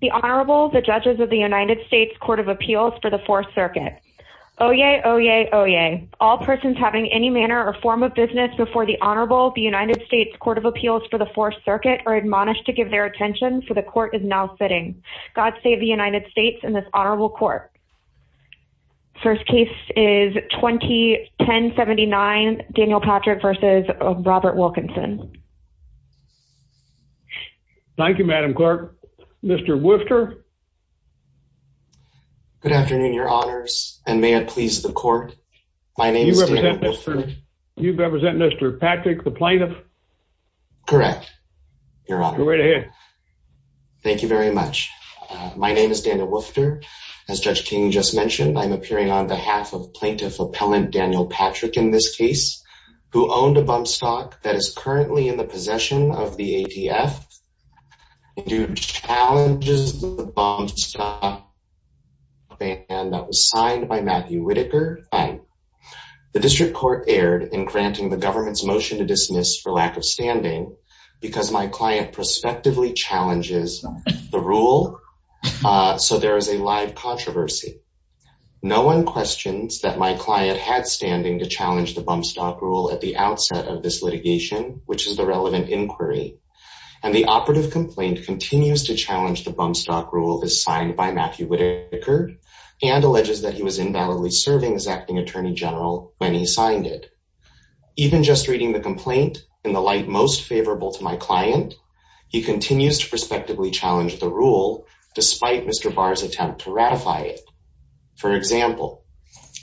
The Honorable, the Judges of the United States Court of Appeals for the Fourth Circuit. Oyez, oyez, oyez. All persons having any manner or form of business before the Honorable, the United States Court of Appeals for the Fourth Circuit are admonished to give their attention, for the Court is now sitting. God save the United States and this Honorable Court. First case is 2010-79, Daniel Patrick v. Robert Wilkinson. Thank you, Madam Clerk. Mr. Wooster. Good afternoon, Your Honors, and may it please the Court, my name is Daniel Wooster. You represent Mr. Patrick, the plaintiff? Correct, Your Honor. Thank you very much. My name is Daniel Wooster. As Judge King just mentioned, I'm appearing on behalf of Plaintiff Appellant Daniel Patrick in this case, who owned a bump stock that is currently in the possession of the ATF. He challenges the bump stock ban that was signed by Matthew Whitaker. The District Court erred in granting the government's motion to dismiss for lack of standing because my client prospectively challenges the rule, so there is a live controversy. No one questions that my client had standing to challenge the bump stock rule at the outset of this litigation, which is the relevant inquiry, and the operative complaint continues to challenge the bump stock rule as signed by Matthew Whitaker, and alleges that he was invalidly serving as Acting Attorney General when he signed it. Even just reading the complaint in the light most favorable to my client, he continues to prospectively challenge the rule despite Mr. Barr's attempt to ratify it. For example,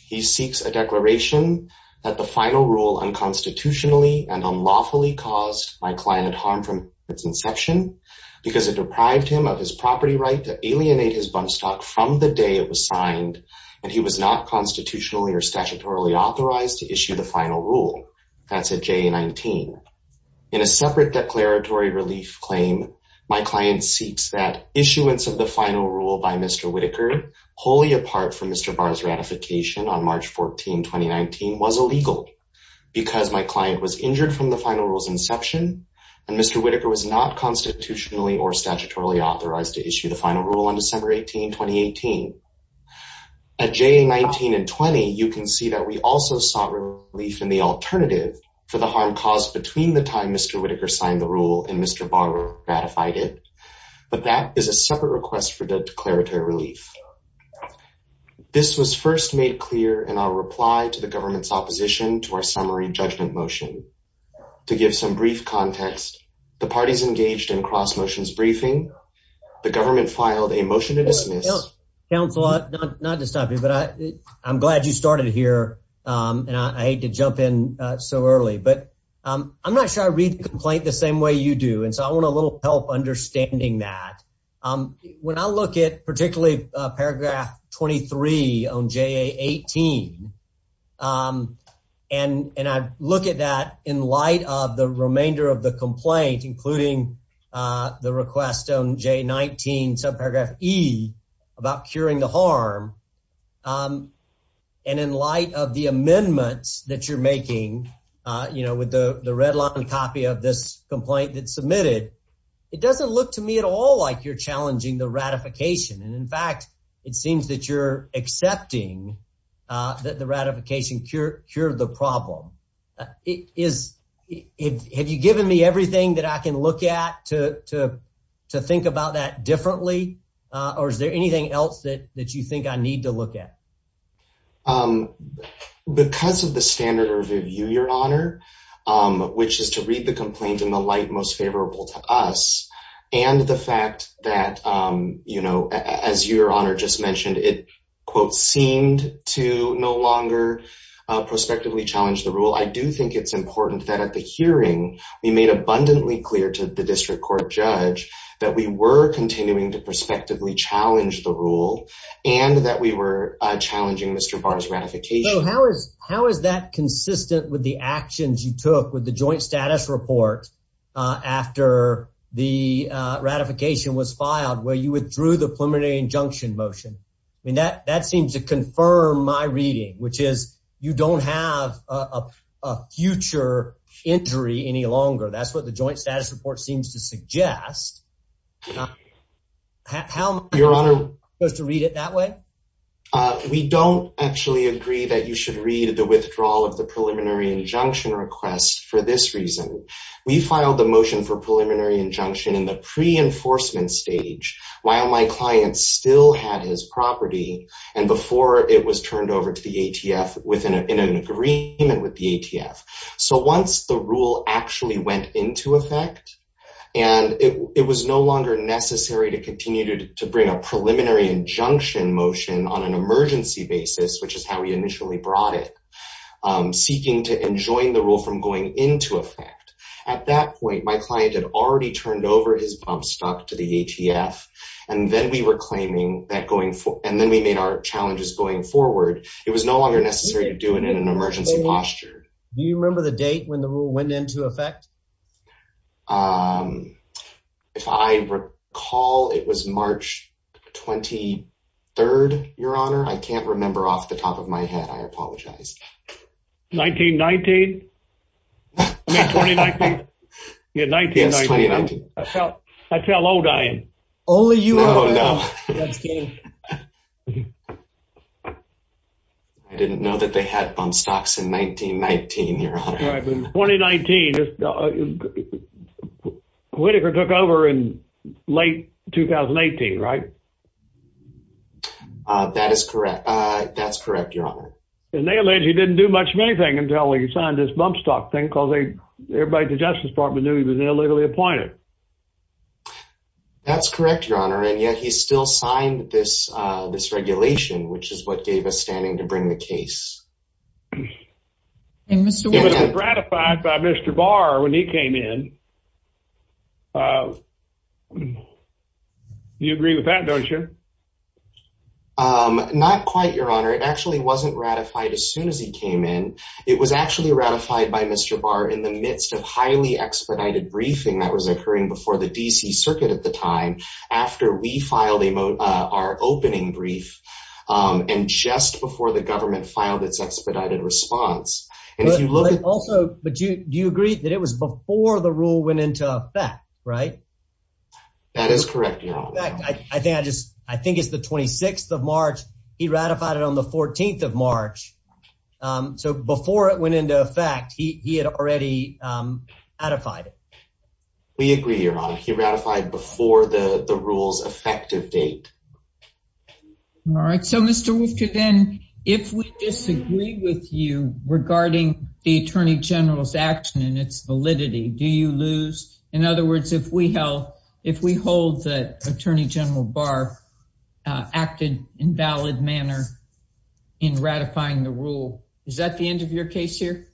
he seeks a declaration that the final rule unconstitutionally and unlawfully caused my client harm from its inception because it deprived him of his property right to alienate his bump stock from the day it was signed, and he was not constitutionally or statutorily authorized to issue the final rule. That's a JA-19. In a separate declaratory relief claim, my client seeks that issuance of the final rule by Mr. Whitaker, wholly apart from Mr. Barr's ratification on March 14, 2019, was illegal because my client was injured from the final rule's inception, and Mr. Whitaker was not constitutionally or statutorily authorized to issue the final rule on December 18, 2018. At JA-19 and 20, you can see that we also sought relief in the alternative for the harm caused between the time Mr. Whitaker signed the rule and Mr. Barr ratified it, but that is a separate request for declaratory relief. This was first made clear in our reply to the government's opposition to our summary judgment motion. To give some brief context, the parties engaged in cross-motions briefing, the government filed a motion to dismiss. Counsel, not to stop you, but I'm glad you started here, and I hate to jump in so early, but I'm not sure I read the complaint the same way you do, and so I want a little help understanding that. When I look at particularly paragraph 23 on JA-18, and I look at that in light of the subparagraph E about curing the harm, and in light of the amendments that you're making, you know, with the red-lined copy of this complaint that's submitted, it doesn't look to me at all like you're challenging the ratification, and in fact, it seems that you're accepting that the ratification cured the problem. Have you given me everything that I can look at to think about that differently, or is there anything else that you think I need to look at? Because of the standard of review, Your Honor, which is to read the complaint in the light most favorable to us, and the fact that, you know, as Your Honor just mentioned, it quote I do think it's important that at the hearing, we made abundantly clear to the district court judge that we were continuing to prospectively challenge the rule, and that we were challenging Mr. Barr's ratification. How is that consistent with the actions you took with the joint status report after the ratification was filed, where you withdrew the preliminary injunction motion? I mean, that seems to confirm my reading, which is you don't have a future injury any longer. That's what the joint status report seems to suggest. How am I supposed to read it that way? We don't actually agree that you should read the withdrawal of the preliminary injunction request for this reason. We filed the motion for preliminary injunction in the pre-enforcement stage, while my client still had his property, and before it was turned over to the ATF within an agreement with the ATF. So once the rule actually went into effect, and it was no longer necessary to continue to bring a preliminary injunction motion on an emergency basis, which is how we initially brought it, seeking to enjoin the rule from going into effect. At that point, my client had already turned over his bump stock to the ATF, and then we were claiming that going forward, and then we made our challenges going forward, it was no longer necessary to do it in an emergency posture. Do you remember the date when the rule went into effect? If I recall, it was March 23rd, your honor. I can't remember off the top of my head. I apologize. 1919? I mean, 2019? Yeah, 1990. Yes, 2019. I tell old I am. Only you are old enough to know. I didn't know that they had bump stocks in 1919, your honor. Right, but in 2019, Whitaker took over in late 2018, right? That is correct. That's correct, your honor. And they allege he didn't do much of anything until he signed this bump stock thing, because everybody at the Justice Department knew he was illegally appointed. That's correct, your honor, and yet he still signed this regulation, which is what gave us standing to bring the case. And was it ratified by Mr. Barr when he came in? You agree with that, don't you? Not quite, your honor. It actually wasn't ratified as soon as he came in. It was actually ratified by Mr. Barr in the midst of highly expedited briefing that was occurring before the D.C. circuit at the time, after we filed our opening brief, and just before the government filed its expedited response. But also, do you agree that it was before the rule went into effect, right? That is correct, your honor. In fact, I think it's the 26th of March, he ratified it on the 14th of March. So before it went into effect, he had already ratified it. We agree, your honor. He ratified it before the rule's effective date. All right, so Mr. Wolfka, then, if we disagree with you regarding the Attorney General's action and its validity, do you lose? In other words, if we hold that Attorney General Barr acted in a valid manner in ratifying the rule, is that the end of your case here?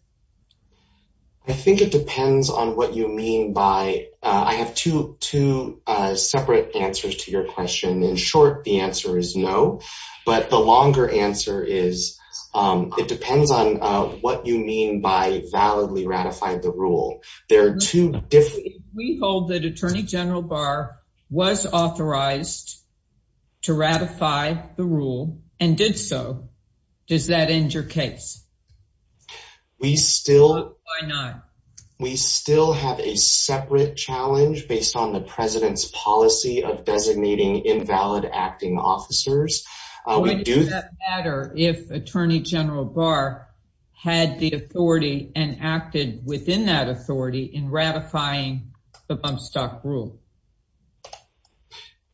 I think it depends on what you mean by—I have two separate answers to your question. In short, the answer is no, but the longer answer is it depends on what you mean by validly ratified the rule. There are two— If we hold that Attorney General Barr was authorized to ratify the rule and did so, does that end your case? We still— Why not? We still have a separate challenge based on the President's policy of designating invalid acting officers. We do— Why does that matter if Attorney General Barr had the authority and acted within that authority in ratifying the bump stock rule?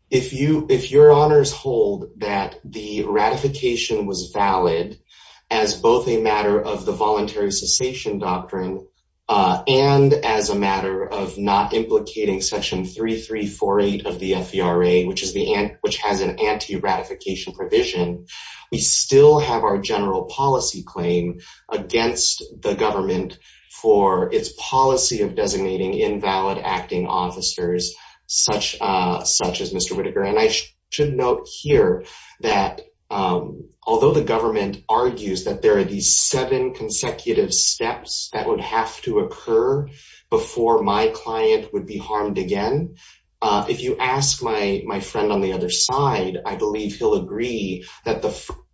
If your honors hold that the ratification was valid as both a matter of the voluntary cessation doctrine and as a matter of not implicating Section 3348 of the FVRA, which has an anti-ratification provision, we still have our general policy claim against the such as Mr. Whitaker. And I should note here that although the government argues that there are these seven consecutive steps that would have to occur before my client would be harmed again, if you ask my friend on the other side, I believe he'll agree that the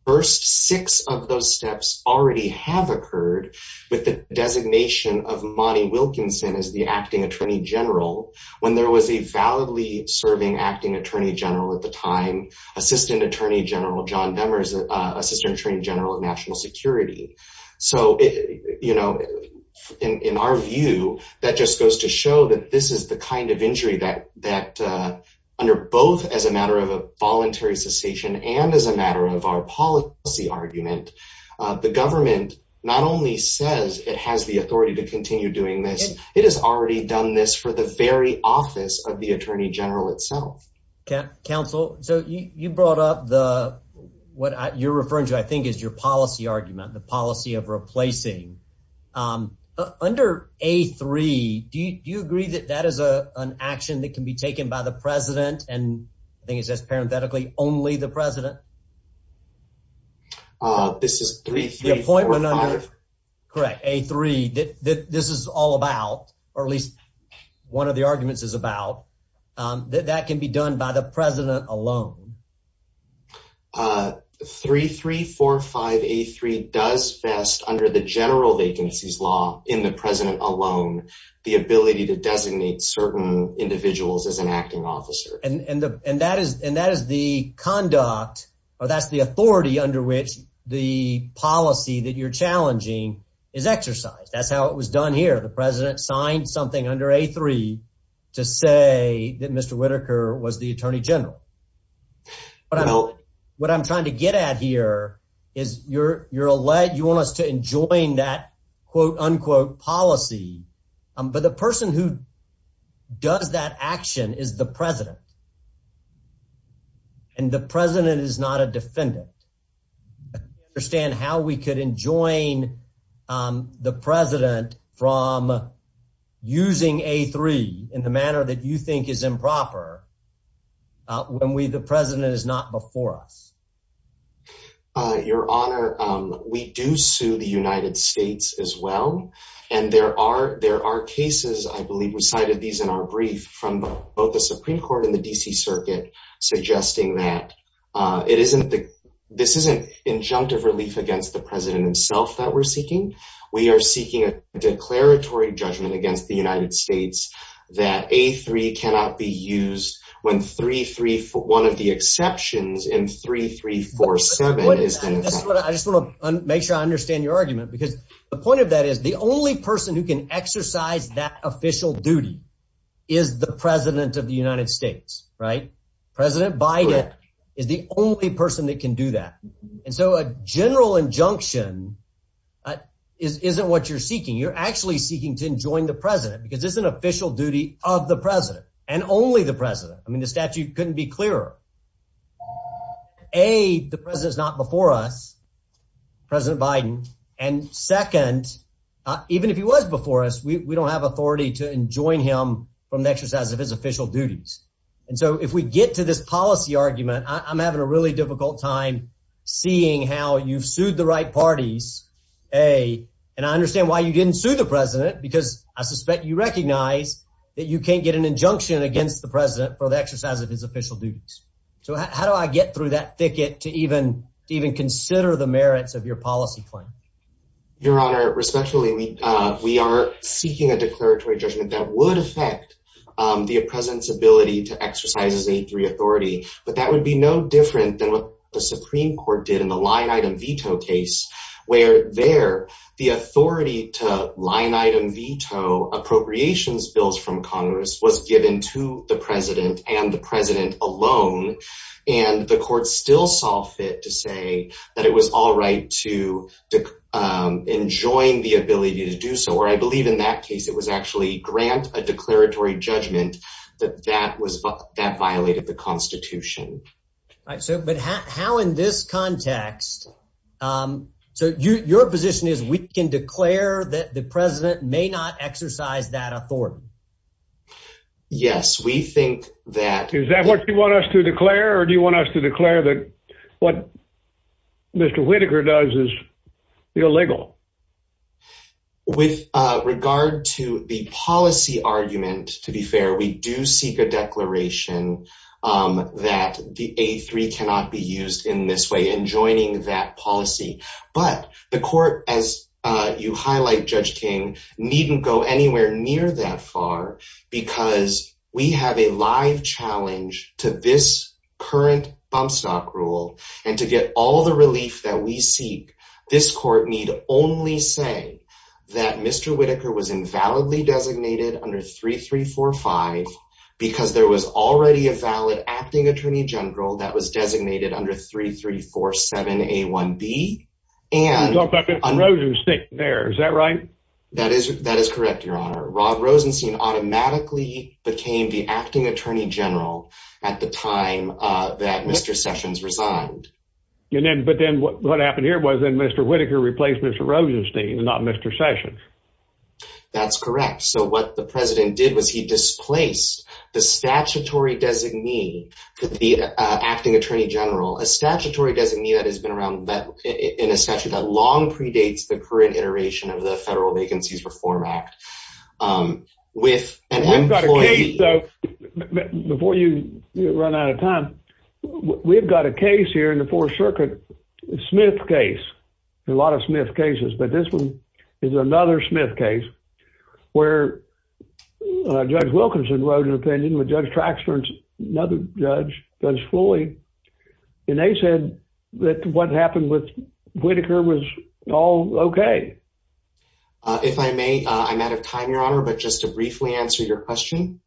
first six of those steps already have occurred with the designation of Monty Wilkinson as the acting Attorney General when there was a validly serving acting Attorney General at the time, Assistant Attorney General John Demers, Assistant Attorney General of National Security. So in our view, that just goes to show that this is the kind of injury that under both as a matter of a voluntary cessation and as a matter of our policy argument, the government not only says it has the authority to continue doing this, it has already done this for the very office of the Attorney General itself. Counsel. So you brought up the what you're referring to, I think, is your policy argument, the policy of replacing under a three. Do you agree that that is an action that can be taken by the president? And I think it's just parenthetically only the president. This is three, three appointment under a three that this is all about, or at least one of the arguments is about that that can be done by the president alone. Three, three, four, five, a three does best under the general vacancies law in the president alone, the ability to designate certain individuals as an acting officer. And that is and that is the conduct or that's the authority under which the policy that you're challenging is exercised. That's how it was done here. The president signed something under a three to say that Mr. Whitaker was the attorney general. But I know what I'm trying to get at here is you're you're a light. You want us to enjoin that, quote, unquote, policy. But the person who does that action is the president. And the president is not a defendant. Understand how we could enjoin the president from using a three in the manner that you think is improper when we the president is not before us. Your Honor, we do sue the United States as well. And there are there are cases, I believe we cited these in our brief from both the Supreme Court and the D.C. Circuit, suggesting that it isn't the this isn't injunctive relief against the president himself that we're seeking. We are seeking a declaratory judgment against the United States that a three cannot be used when three, three, one of the exceptions in three, three, four, seven is what I just make sure I understand your argument, because the point of that is the only person who can exercise that official duty is the president of the United States. Right. President Biden is the only person that can do that. And so a general injunction isn't what you're seeking. You're actually seeking to enjoin the president because it's an official duty of the president and only the president. I mean, the statute couldn't be clearer. A, the president is not before us, President Biden. And second, even if he was before us, we don't have authority to enjoin him from the exercise of his official duties. And so if we get to this policy argument, I'm having a really difficult time seeing how you've sued the right parties. A, and I understand why you didn't sue the president, because I suspect you recognize that you can't get an injunction against the president for the exercise of his official duties. So how do I get through that thicket to even even consider the merits of your policy claim? Your Honor, respectfully, we we are seeking a declaratory judgment that would affect the president's ability to exercise his A3 authority. But that would be no different than what the Supreme Court did in the line item veto case where there the authority to line item veto appropriations bills from Congress was given to the president and the president alone. And the court still saw fit to say that it was all right to enjoy the ability to do so. Or I believe in that case, it was actually grant a declaratory judgment that that was that violated the Constitution. All right. So but how in this context? So your position is we can declare that the president may not exercise that authority? Yes, we think that is that what you want us to declare? Or do you want us to declare that what Mr. Whitaker does is illegal? With regard to the policy argument, to be fair, we do seek a declaration that the A3 cannot be used in this way in joining that policy. But the court, as you highlight, Judge King, needn't go anywhere near that far because we have a live challenge to this current bump stock rule. And to get all the relief that we seek, this court need only say that Mr. Whitaker was invalidly designated under 3345 because there was already a valid acting attorney general that was designated under 3347 A1B. And Rosenstein there. Is that right? That is that is correct, Your Honor. Rob Rosenstein automatically became the acting attorney general at the time that Mr. Sessions resigned. But then what happened here was that Mr. Whitaker replaced Mr. Rosenstein, not Mr. Sessions. That's correct. So what the president did was he displaced the statutory designee, the acting attorney general, a statutory designee that has been around that in a statute that long predates the current iteration of the Federal Vacancies Reform Act. With an employee, though, before you run out of time, we've got a case here in the Fourth Circuit, Smith case, a lot of Smith cases. But this one is another Smith case where Judge Wilkinson wrote an opinion with Judge Traxford, another judge, Judge Floyd. And they said that what happened with Whitaker was all OK. If I may, I'm out of time, Your Honor, but just to briefly answer your question.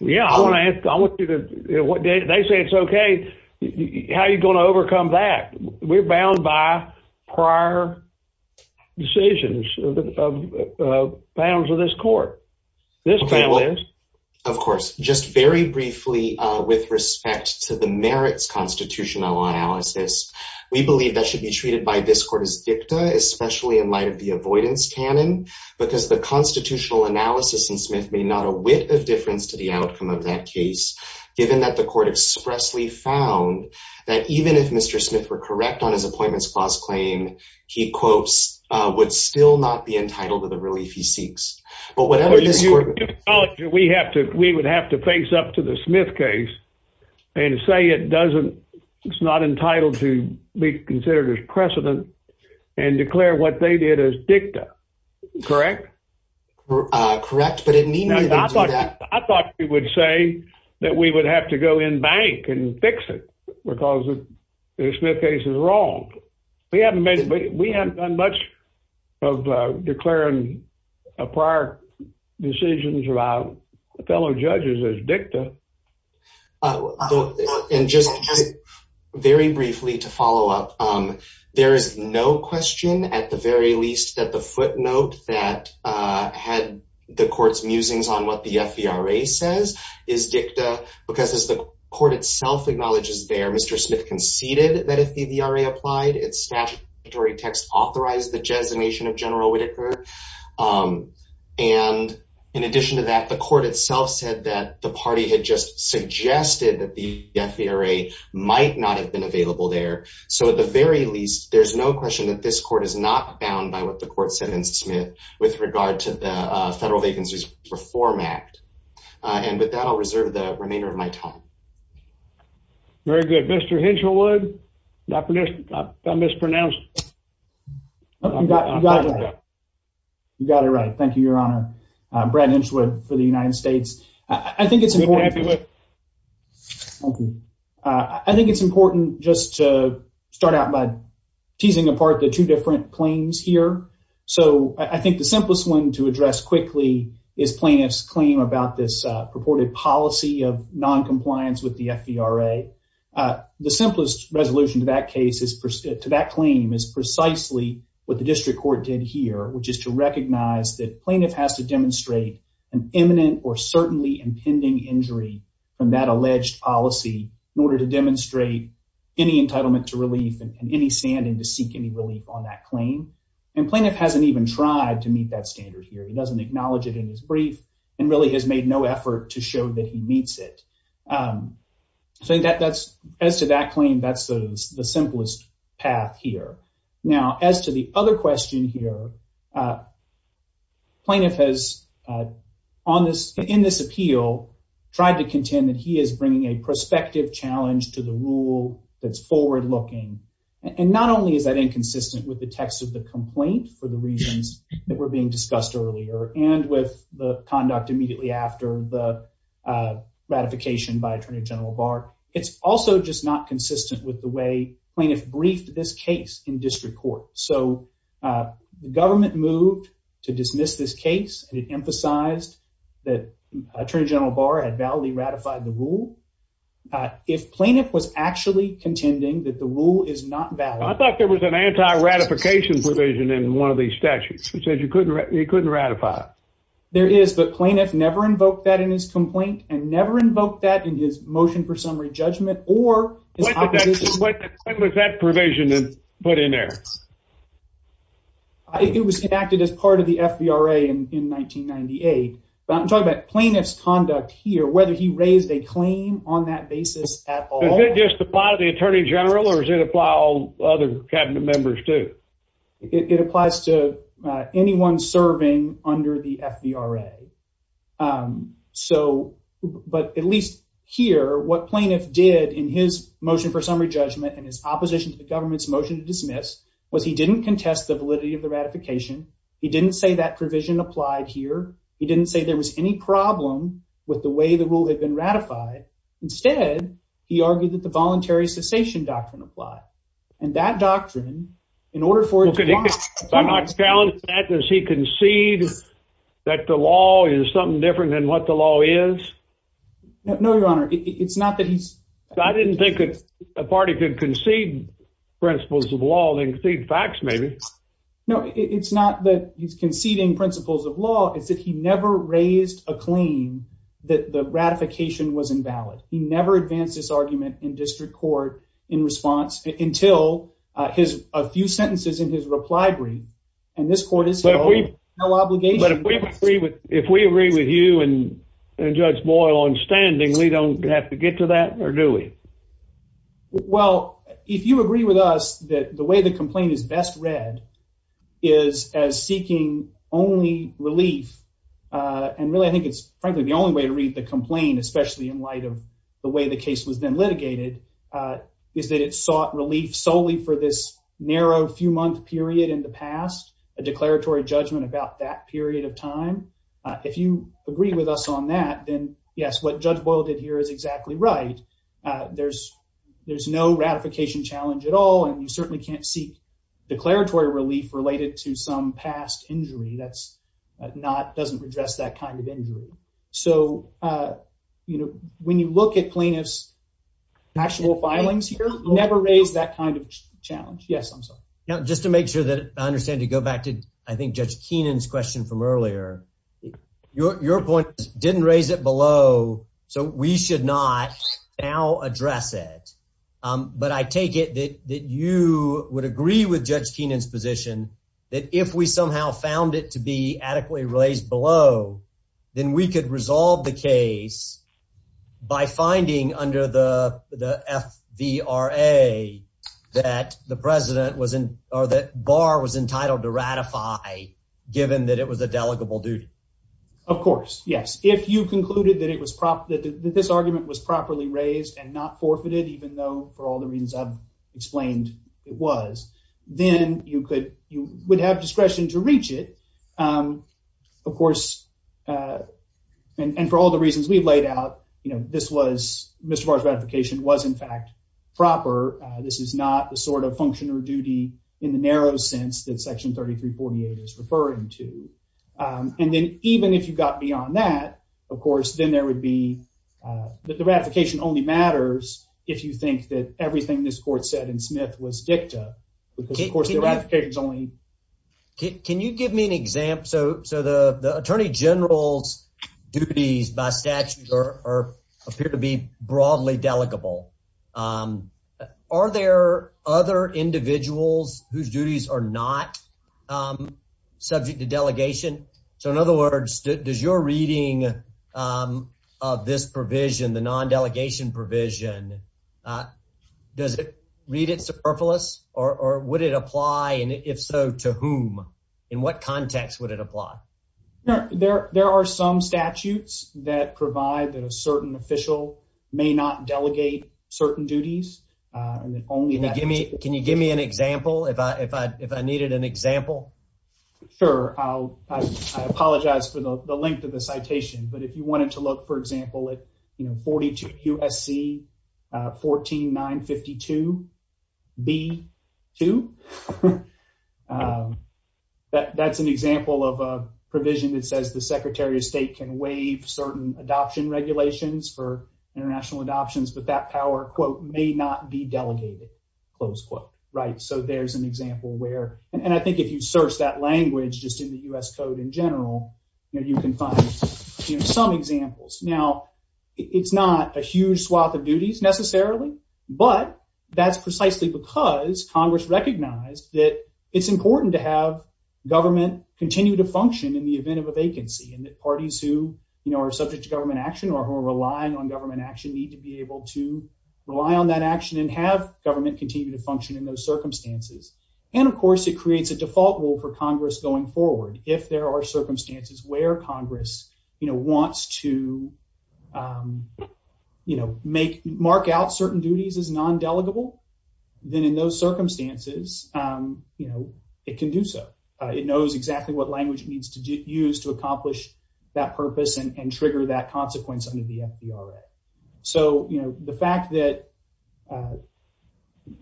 Yeah, I want to ask. I want you to know what they say. It's OK. How are you going to overcome that? We're bound by prior decisions of bounds of this court. This family is. Of course. Just very briefly, with respect to the merits constitutional analysis, we believe that should be treated by this court as dicta, especially in light of the avoidance canon, because the constitutional analysis in Smith made not a whit of difference to the outcome of that case, given that the court expressly found that even if Mr. Smith were correct on his appointments clause claim, he quotes, would still not be entitled to the relief he seeks. But whatever we have to, we would have to face up to the Smith case and say it doesn't. It's not entitled to be considered as precedent and declare what they did as dicta. Correct. Correct. I thought you would say that we would have to go in bank and fix it because the Smith case is wrong. We haven't made we haven't done much of declaring prior decisions about fellow judges as dicta. And just very briefly to follow up, there is no question at the very least that the footnote that had the court's musings on what the FVRA says is dicta, because as the court itself acknowledges there, Mr. Smith conceded that if the FVRA applied, its statutory text authorized the designation of General Whitaker. And in addition to that, the court itself said that the party had just suggested that the FVRA might not have been available there. So at the very least, there's no question that this court is not bound by what the court said in Smith with regard to the Federal Vacancies Reform Act. And with that, I'll reserve the remainder of my time. Very good. Mr. Hinchwood, I mispronounced. You got it right. Thank you, Your Honor. Brad Hinchwood for the United States. I think it's important just to start out by teasing apart the two different claims here. So I think the simplest one to address quickly is plaintiff's claim about this purported policy of noncompliance with the FVRA. The simplest resolution to that claim is precisely what the district court did here, which is to recognize that plaintiff has to demonstrate an imminent or certainly impending injury from that alleged policy in order to demonstrate any entitlement to relief and any standing to seek any relief on that claim. And plaintiff hasn't even tried to meet that standard here. He doesn't acknowledge it in his brief and really has made no effort to show that he meets it. So as to that claim, that's the simplest path here. Now, as to the other question here, plaintiff has, in this appeal, tried to contend that he is bringing a prospective challenge to the rule that's forward-looking. And not only is that inconsistent with the text of the complaint for the reasons that were being discussed earlier and with the conduct immediately after the ratification by Attorney General Barr, it's also just not consistent with the way plaintiff briefed this case in district court. So the government moved to dismiss this case, and it emphasized that Attorney General Barr had validly ratified the rule. If plaintiff was actually contending that the rule is not valid. I thought there was an anti-ratification provision in one of these statutes. It says you couldn't ratify it. There is, but plaintiff never invoked that in his complaint and never invoked that in his motion for summary judgment or his opposition. What was that provision put in there? It was enacted as part of the FBRA in 1998. I'm talking about plaintiff's conduct here, whether he raised a claim on that basis at all. Does it just apply to the Attorney General or does it apply to all other cabinet members too? It applies to anyone serving under the FBRA. But at least here, what plaintiff did in his motion for summary judgment and his opposition to the government's motion to dismiss was he didn't contest the validity of the ratification. He didn't say that provision applied here. He didn't say there was any problem with the way the rule had been ratified. Instead, he argued that the voluntary cessation doctrine applied. And that doctrine, in order for it to apply- I'm not challenging that. Does he concede that the law is something different than what the law is? No, Your Honor. It's not that he's- I didn't think that a party could concede principles of law and concede facts maybe. No, it's not that he's conceding principles of law. It's that he never raised a claim that the ratification was invalid. He never advanced this argument in district court in response until a few sentences in his reply brief. And this court has held no obligation- But if we agree with you and Judge Boyle on standing, we don't have to get to that, or do we? Well, if you agree with us that the way the complaint is best read is as seeking only relief, and really I think it's frankly the only way to read the complaint, especially in light of the way the case was then litigated, is that it sought relief solely for this narrow few-month period in the past, a declaratory judgment about that period of time. If you agree with us on that, then yes, what Judge Boyle did here is exactly right. There's no ratification challenge at all, and you certainly can't seek declaratory relief related to some past injury. That doesn't address that kind of injury. So when you look at plaintiff's actual filings here, never raise that kind of challenge. Yes, I'm sorry. Now, just to make sure that I understand, to go back to I think Judge Keenan's question from earlier, your point is didn't raise it below, so we should not now address it. But I take it that you would agree with Judge Keenan's position that if we somehow found it to be adequately raised below, then we could resolve the case by finding under the FVRA that the president or that bar was entitled to ratify, given that it was a delegable duty. Of course, yes. If you concluded that this argument was properly raised and not forfeited, even though for all the reasons I've explained it was, then you would have discretion to reach it. Of course, and for all the reasons we've laid out, this was Mr. Barr's ratification was, in fact, proper. This is not the sort of function or duty in the narrow sense that Section 3348 is referring to. And then even if you got beyond that, of course, then there would be that the ratification only matters if you think that everything this court said in Smith was dicta, because, of course, the ratification is only. Can you give me an example? So the attorney general's duties by statute appear to be broadly delegable. Are there other individuals whose duties are not subject to delegation? So in other words, does your reading of this provision, the non-delegation provision, does it read it superfluous or would it apply? And if so, to whom? In what context would it apply? There are some statutes that provide that a certain official may not delegate certain duties. Sure. I apologize for the length of the citation. But if you wanted to look, for example, at 42 U.S.C. 14952 B.2, that's an example of a provision that says the Secretary of State can waive certain adoption regulations for international adoptions, but that power, quote, may not be delegated, close quote, right? There's an example where, and I think if you search that language just in the U.S. Code in general, you can find some examples. Now, it's not a huge swath of duties necessarily, but that's precisely because Congress recognized that it's important to have government continue to function in the event of a vacancy and that parties who are subject to government action or who are relying on government action need to be And of course, it creates a default rule for Congress going forward. If there are circumstances where Congress wants to mark out certain duties as non-delegable, then in those circumstances, it can do so. It knows exactly what language it needs to use to accomplish that purpose and trigger that consequence under the FDRA. So the fact that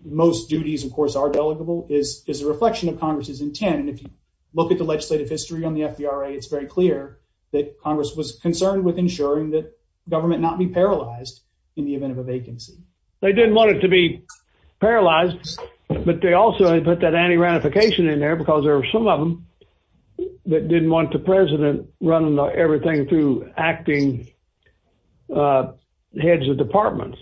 most duties, of course, are delegable is a reflection of Congress's intent. And if you look at the legislative history on the FDRA, it's very clear that Congress was concerned with ensuring that government not be paralyzed in the event of a vacancy. They didn't want it to be paralyzed, but they also put that anti-ranification in there because there are some of them that didn't want the president running everything through acting heads of departments,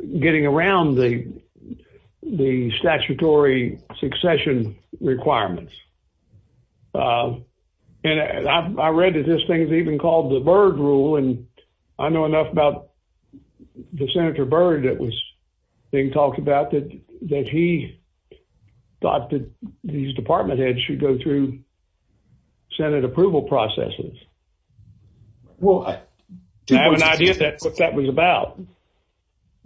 getting around the statutory succession requirements. And I read that this thing is even called the Byrd rule, and I know enough about the Senator Byrd that was being talked about that he thought that these department heads should go through Senate approval processes. Well, I have an idea of what that was about.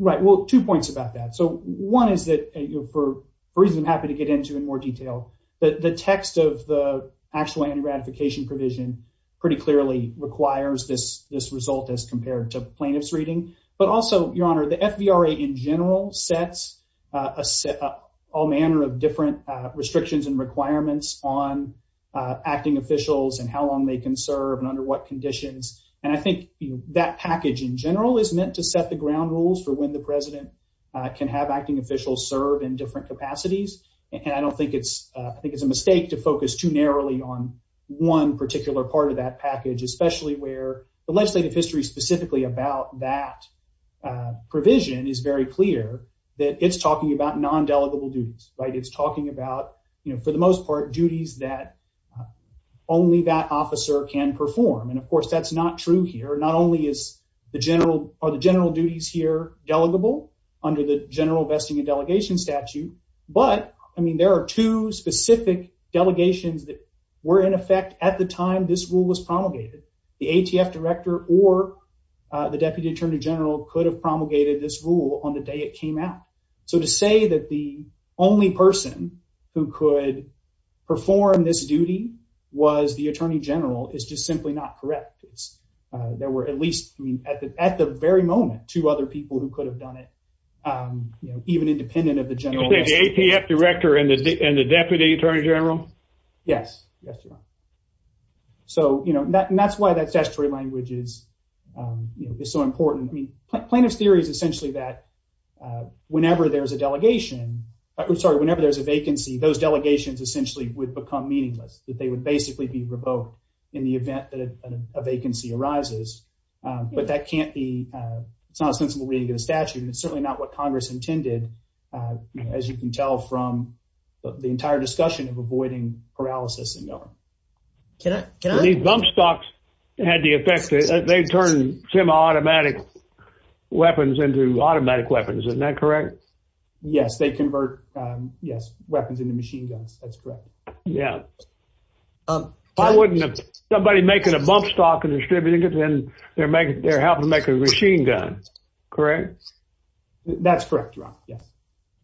Right. Well, two points about that. So one is that, for a reason I'm happy to get into in more detail, the text of the actual anti-ratification provision pretty clearly requires this result as compared to plaintiff's reading. But also, Your Honor, the FDRA in general sets up all manner of different restrictions and requirements on acting officials and how long they can serve and under what conditions. And I think that package in general is meant to set the ground rules for when the president can have acting officials serve in different capacities. And I don't think it's I think it's a mistake to focus too narrowly on one particular part of that package, especially where the legislative history specifically about that provision is very clear that it's talking about non-delegable duties, right? It's talking about, you know, for the most part, duties that only that officer can perform. And of course, that's not true here. Not only is the general or the general duties here delegable under the general vesting and delegation statute, but I mean, there are two specific delegations that were in effect at the time this rule was promulgated. The ATF director or the deputy attorney general could have promulgated this rule on the day it came out. So to say that the only person who could perform this duty was the attorney general is just simply not correct. There were at least at the very moment, two other people who could have done it, you know, even independent of the general. The ATF director and the deputy attorney general? Yes. So, you know, that's why that statutory language is so important. I mean, plaintiff's theory is essentially that whenever there's a delegation, I'm sorry, whenever there's a vacancy, those delegations essentially would become meaningless, that they would basically be revoked in the event that a vacancy arises. But that can't be, it's not a sensible way to get a statute. It's certainly not what Congress intended, as you can tell from the entire discussion of avoiding paralysis and knowing. Can I? Can I? These bump stocks had the effect, they turn semi-automatic weapons into automatic weapons. Isn't that correct? Yes, they convert, yes, weapons into machine guns. That's correct. Yeah. Why wouldn't somebody making a bump stock and distributing it, then they're making, they're helping to make a machine gun, correct? That's correct, Ron. Yes.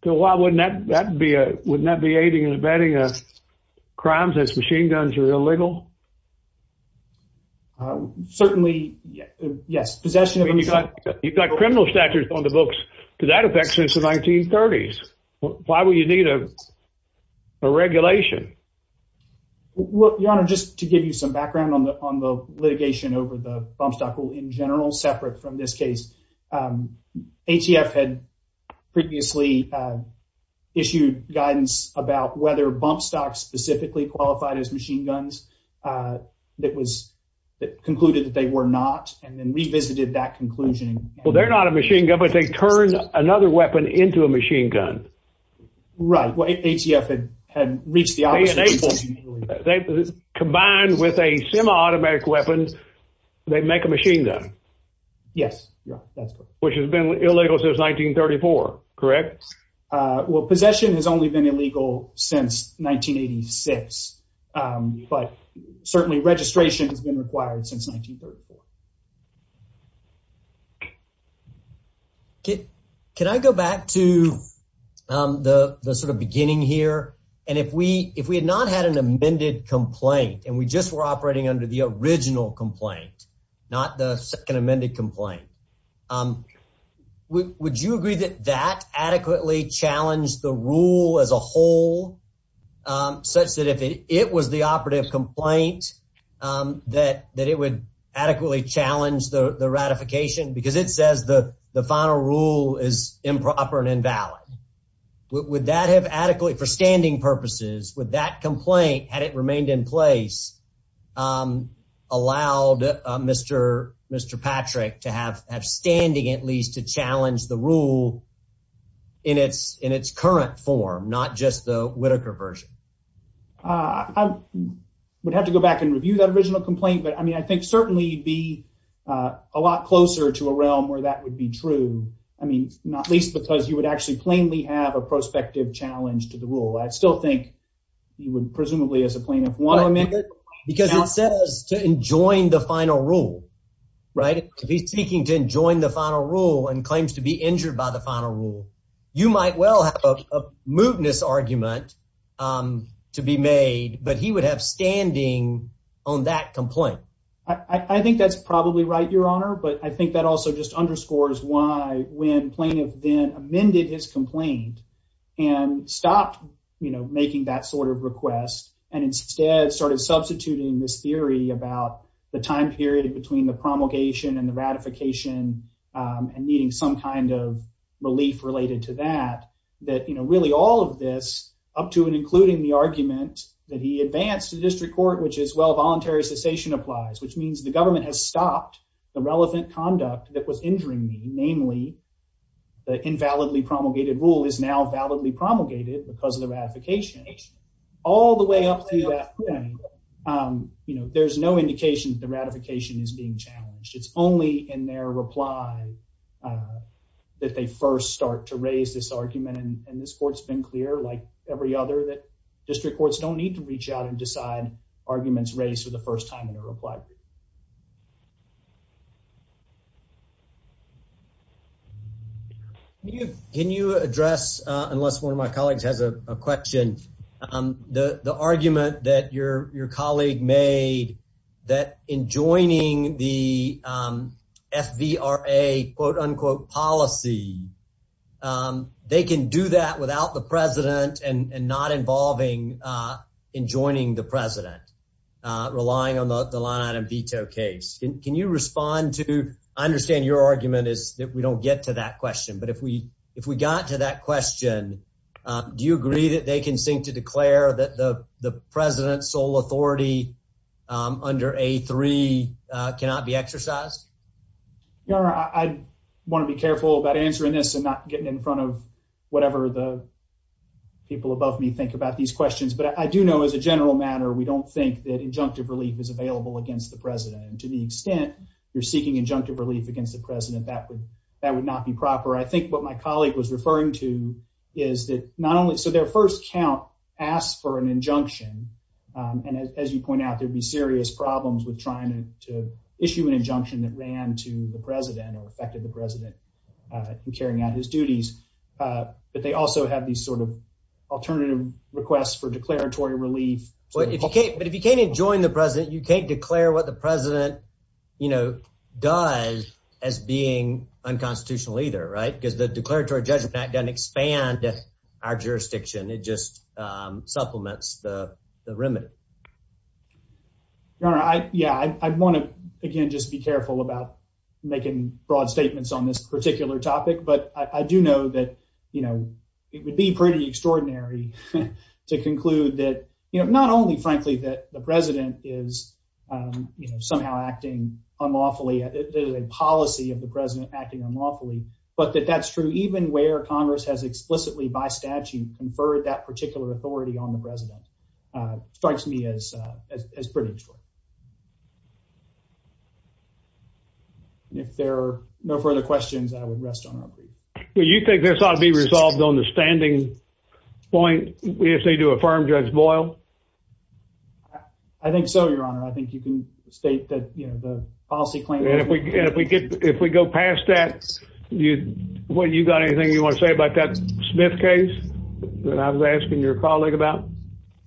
So why wouldn't that be a, wouldn't that be aiding and abetting crimes as machine guns are illegal? Certainly, yes. You've got criminal statutes on the books to that effect since the 1930s. Why would you need a regulation? Your Honor, just to give you some background on the litigation over the bump stock rule in general, separate from this case, ATF had previously issued guidance about whether bump stocks specifically qualified as machine guns that was, that concluded that they were not, and then revisited that conclusion. Well, they're not a machine gun, but they turn another weapon into a machine gun. Right, ATF had reached the opposite conclusion. They combined with a semi-automatic weapon, they make a machine gun. Yes, that's correct. Which has been illegal since 1934, correct? Well, possession has only been illegal since 1986, but certainly registration has been required since 1934. Okay, can I go back to the sort of beginning here, and if we had not had an amended complaint and we just were operating under the original complaint, not the second amended complaint, would you agree that that adequately challenged the rule as a whole, such that if it was the ratification, because it says the final rule is improper and invalid, would that have adequately, for standing purposes, would that complaint, had it remained in place, allowed Mr. Patrick to have standing at least to challenge the rule in its current form, not just the Whitaker version? I would have to go back and review that original complaint, but I mean, I think certainly it'd a lot closer to a realm where that would be true, I mean, not least because you would actually plainly have a prospective challenge to the rule. I still think you would presumably as a plaintiff want to amend it. Because it says to enjoin the final rule, right? He's seeking to enjoin the final rule and claims to be injured by the final rule. You might well have a mootness argument to be made, but he would have standing on that complaint. I think that's probably right, Your Honor, but I think that also just underscores why when plaintiff then amended his complaint and stopped making that sort of request and instead started substituting this theory about the time period between the promulgation and the ratification and needing some kind of relief related to that, that really all of this, up to and including the argument that he advanced to the district court, which is voluntary cessation applies, which means the government has stopped the relevant conduct that was injuring me. Namely, the invalidly promulgated rule is now validly promulgated because of the ratification. All the way up to that point, there's no indication that the ratification is being challenged. It's only in their reply that they first start to raise this argument and this court's been clear, like every other, that district courts don't need to reach out and decide arguments raised for the first time in a reply. Can you address, unless one of my colleagues has a question, the argument that your colleague made that in joining the FVRA quote unquote policy, they can do that without the president and not involving in joining the president, relying on the line item veto case. Can you respond to? I understand your argument is that we don't get to that question, but if we if we got to that question, do you agree that they can sink to declare that the president's sole authority under a three cannot be exercised? Your honor, I want to be careful about answering this and not getting in front of whatever the people above me think about these questions. But I do know as a general matter, we don't think that injunctive relief is available against the president. And to the extent you're seeking injunctive relief against the president, that would that would not be proper. I think what my colleague was referring to is that not only so their first count asked for an injunction. And as you point out, there'd be serious problems with trying to issue an injunction that ran to the president or affected the president in carrying out his duties. But they also have these sort of alternative requests for declaratory relief. But if you can't, but if you can't join the president, you can't declare what the president, you know, does as being unconstitutional either, right? Because the Declaratory Judgment Act doesn't expand our jurisdiction. It just supplements the remit. Your honor, I yeah, I want to, again, just be careful about making broad statements on this particular topic. But I do know that, you know, it would be pretty extraordinary to conclude that, you know, not only, frankly, that the president is, you know, somehow acting unlawfully, a policy of the president acting unlawfully. But that that's true, even where Congress has explicitly by statute conferred that particular authority on the president strikes me as as pretty. If there are no further questions, I would rest on. Well, you think this ought to be resolved on the standing point? We just need to affirm Judge Boyle. I think so, your honor. I think you can state that, you know, the policy claim that if we get if we go past that, you when you got anything you want to say about that Smith case that I was asking your colleague about?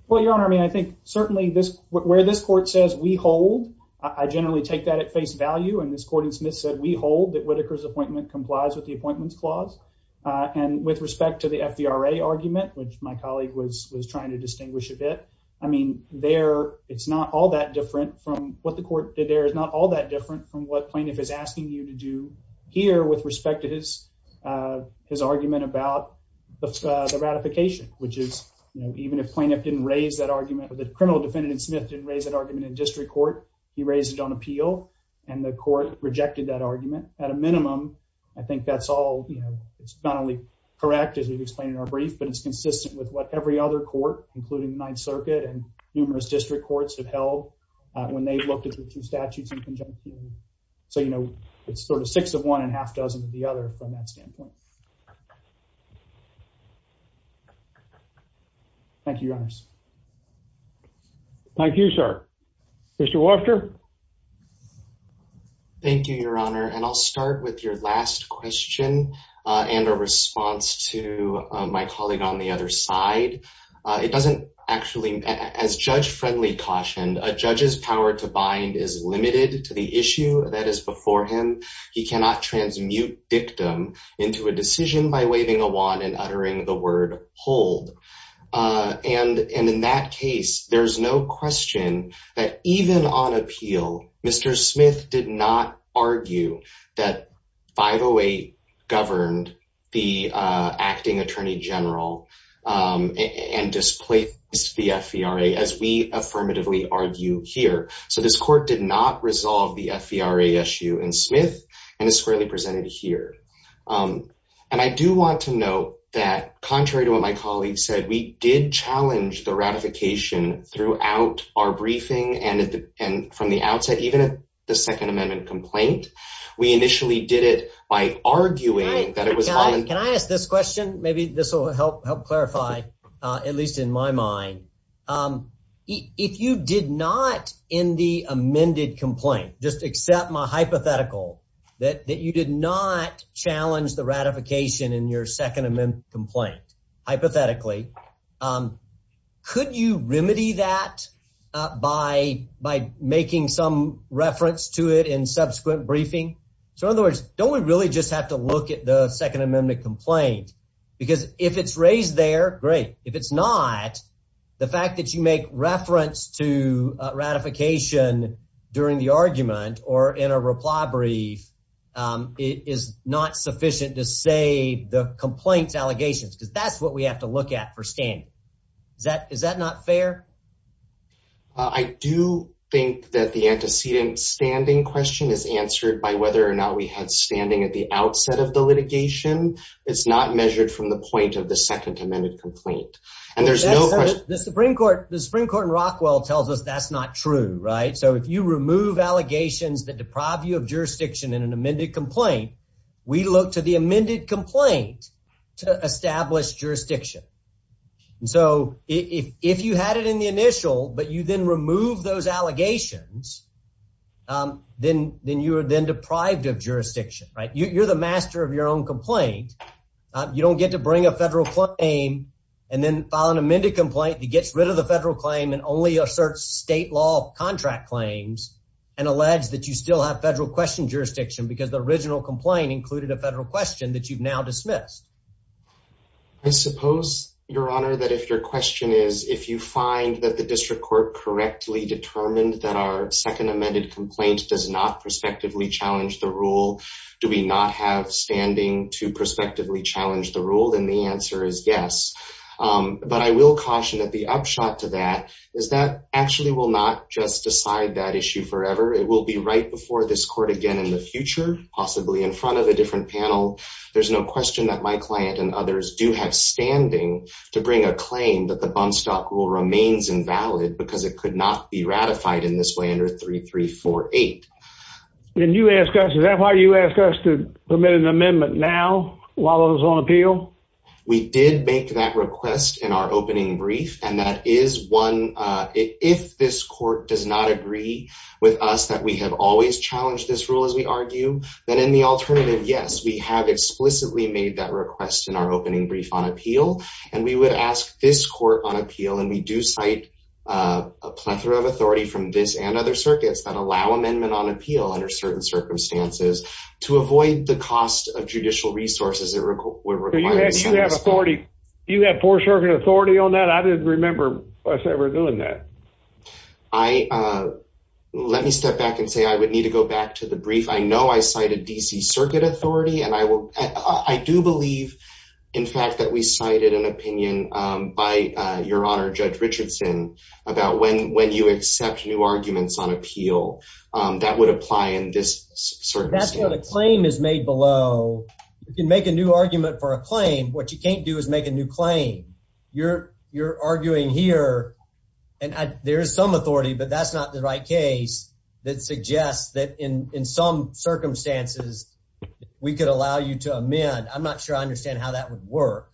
Well, your honor, I mean, I think certainly this where this court says we hold I generally take that at face value. And this court in Smith said we hold that Whitaker's appointment complies with the appointments clause on with respect to the FDRA argument, which my colleague was trying to distinguish a bit. I mean, there it's not all that different from what the court did. There is not all that different from what plaintiff is asking you to do here with respect to his his argument about the ratification, which is, you know, even if plaintiff didn't raise that argument, the criminal defendant Smith didn't raise that argument in district court. He raised it on appeal and the court rejected that argument. At a minimum, I think that's all. You know, it's not only correct, as we've explained in our brief, but it's consistent with what every other court, including the Ninth Circuit and numerous district courts have held when they've looked at the two statutes in conjunction. So, you know, it's sort of six of one and a half dozen of the other from that standpoint. Thank you, Your Honors. Thank you, sir. Mr. Walker. Thank you, Your Honor. And I'll start with your last question and a response to my colleague on the other side. It doesn't actually, as Judge Friendly cautioned, a judge's power to bind is limited to the issue that is before him. He cannot transmute dictum into a decision by waving a wand and uttering the word hold. And in that case, there's no question that even on appeal, Mr. Smith did not argue that 508 governed the acting attorney general and displaced the FVRA, as we affirmatively argue here. So this court did not resolve the FVRA issue in Smith and is squarely presented here. And I do want to note that, contrary to what my colleague said, we did challenge the ratification throughout our briefing and from the outset, even at the Second Amendment complaint. We initially did it by arguing that it was— Can I ask this question? Maybe this will help clarify, at least in my mind. If you did not, in the amended complaint, just accept my hypothetical, that you did not challenge the ratification in your Second Amendment complaint, hypothetically, could you remedy that by making some reference to it in subsequent briefing? So in other words, don't we really just have to look at the Second Amendment complaint? Because if it's raised there, great. If it's not, the fact that you make reference to ratification during the argument or in a reply brief is not sufficient to say the complaint's allegations, because that's what we have to look at for standing. Is that not fair? I do think that the antecedent standing question is answered by whether or not we had standing at the outset of the litigation. It's not measured from the point of the Second Amendment complaint. And there's no question— The Supreme Court in Rockwell tells us that's not true, right? So if you remove allegations that deprive you of jurisdiction in an amended complaint, we look to the amended complaint to establish jurisdiction. So if you had it in the initial, but you then remove those allegations, then you are then deprived of jurisdiction, right? You're the master of your own complaint. You don't get to bring a federal claim and then file an amended complaint that gets rid of the federal claim and only asserts state law contract claims and allege that you still have federal question jurisdiction because the original complaint included a federal question that you've now dismissed. I suppose, Your Honor, that if your question is if you find that the district court correctly determined that our Second Amended complaint does not prospectively challenge the rule, do we not have standing to prospectively challenge the rule? Then the answer is yes. But I will caution that the upshot to that is that actually will not just decide that issue forever. It will be right before this court again in the future, possibly in front of a different panel. There's no question that my client and others do have standing to bring a claim that the bump stop rule remains invalid because it could not be ratified in this way under 3348. Then you ask us, is that why you ask us to permit an amendment now while it was on appeal? We did make that request in our opening brief, and that is one, if this court does not agree with us that we have always challenged this rule, as we argue, then in the alternative, yes, we have explicitly made that request in our opening brief on appeal. And we would ask this court on appeal, and we do cite a plethora of authority from this and other circuits that allow amendment on appeal under certain circumstances to avoid the cost of judicial resources that were required. You have authority. You have four-circuit authority on that. I didn't remember us ever doing that. I, let me step back and say I would need to go back to the brief. I know I cited D.C. Circuit authority, and I will, I do believe, in fact, that we cited an opinion by your arguments on appeal that would apply in this circumstance. That's what a claim is made below. You can make a new argument for a claim. What you can't do is make a new claim. You're arguing here, and there is some authority, but that's not the right case that suggests that in some circumstances, we could allow you to amend. I'm not sure I understand how that would work.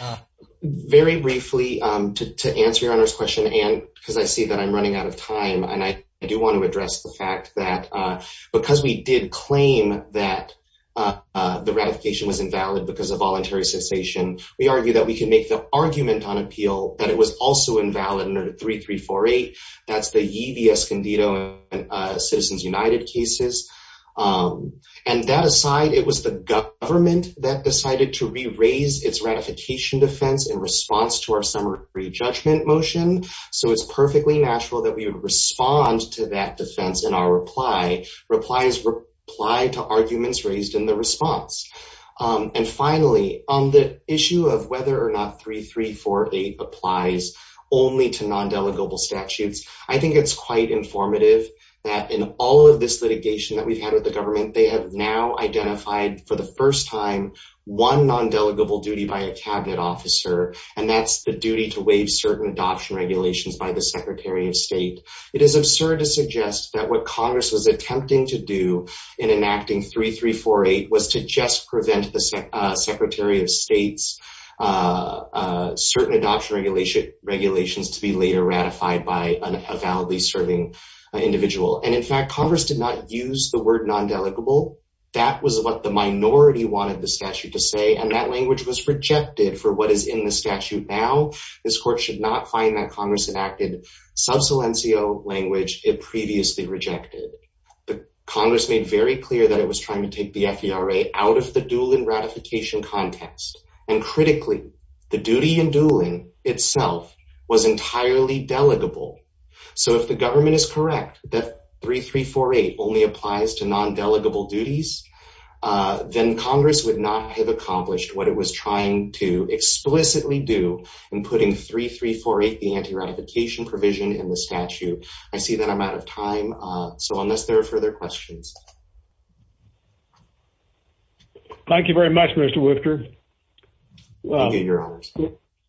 Uh, very briefly, um, to, to answer your Honor's question, and because I see that I'm running out of time, and I, I do want to address the fact that, uh, because we did claim that, uh, uh, the ratification was invalid because of voluntary cessation, we argue that we can make the argument on appeal that it was also invalid under 3348. That's the Yee V. Escondido and, uh, Citizens United cases. Um, and that aside, it was the government that decided to re-raise its ratification defense in response to our summary judgment motion, so it's perfectly natural that we would respond to that defense in our reply. Replies reply to arguments raised in the response. Um, and finally, on the issue of whether or not 3348 applies only to non-delegable statutes, I think it's quite informative that in all of this litigation that we've had with the government, they have now identified, for the first time, one non-delegable duty by a cabinet officer, and that's the duty to waive certain adoption regulations by the Secretary of State. It is absurd to suggest that what Congress was attempting to do in enacting 3348 was to just prevent the, uh, Secretary of State's, uh, uh, certain adoption regulation, regulations to be later ratified by an- a validly serving, uh, individual. And in fact, Congress did not use the word non-delegable. That was what the minority wanted the statute to say, and that language was rejected for what is in the statute now. This Court should not find that Congress enacted sub silencio language it previously rejected. The Congress made very clear that it was trying to take the FERA out of the dueling ratification context. And critically, the duty in dueling itself was entirely delegable. So if the government is correct that 3348 only applies to non-delegable duties, uh, then Congress would not have accomplished what it was trying to explicitly do in putting 3348, the anti-ratification provision in the statute. I see that I'm out of time, uh, so unless there are further questions. Thank you very much, Mr. Wifter. Well,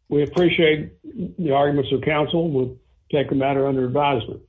we appreciate the arguments of counsel. We'll take a matter under advisement.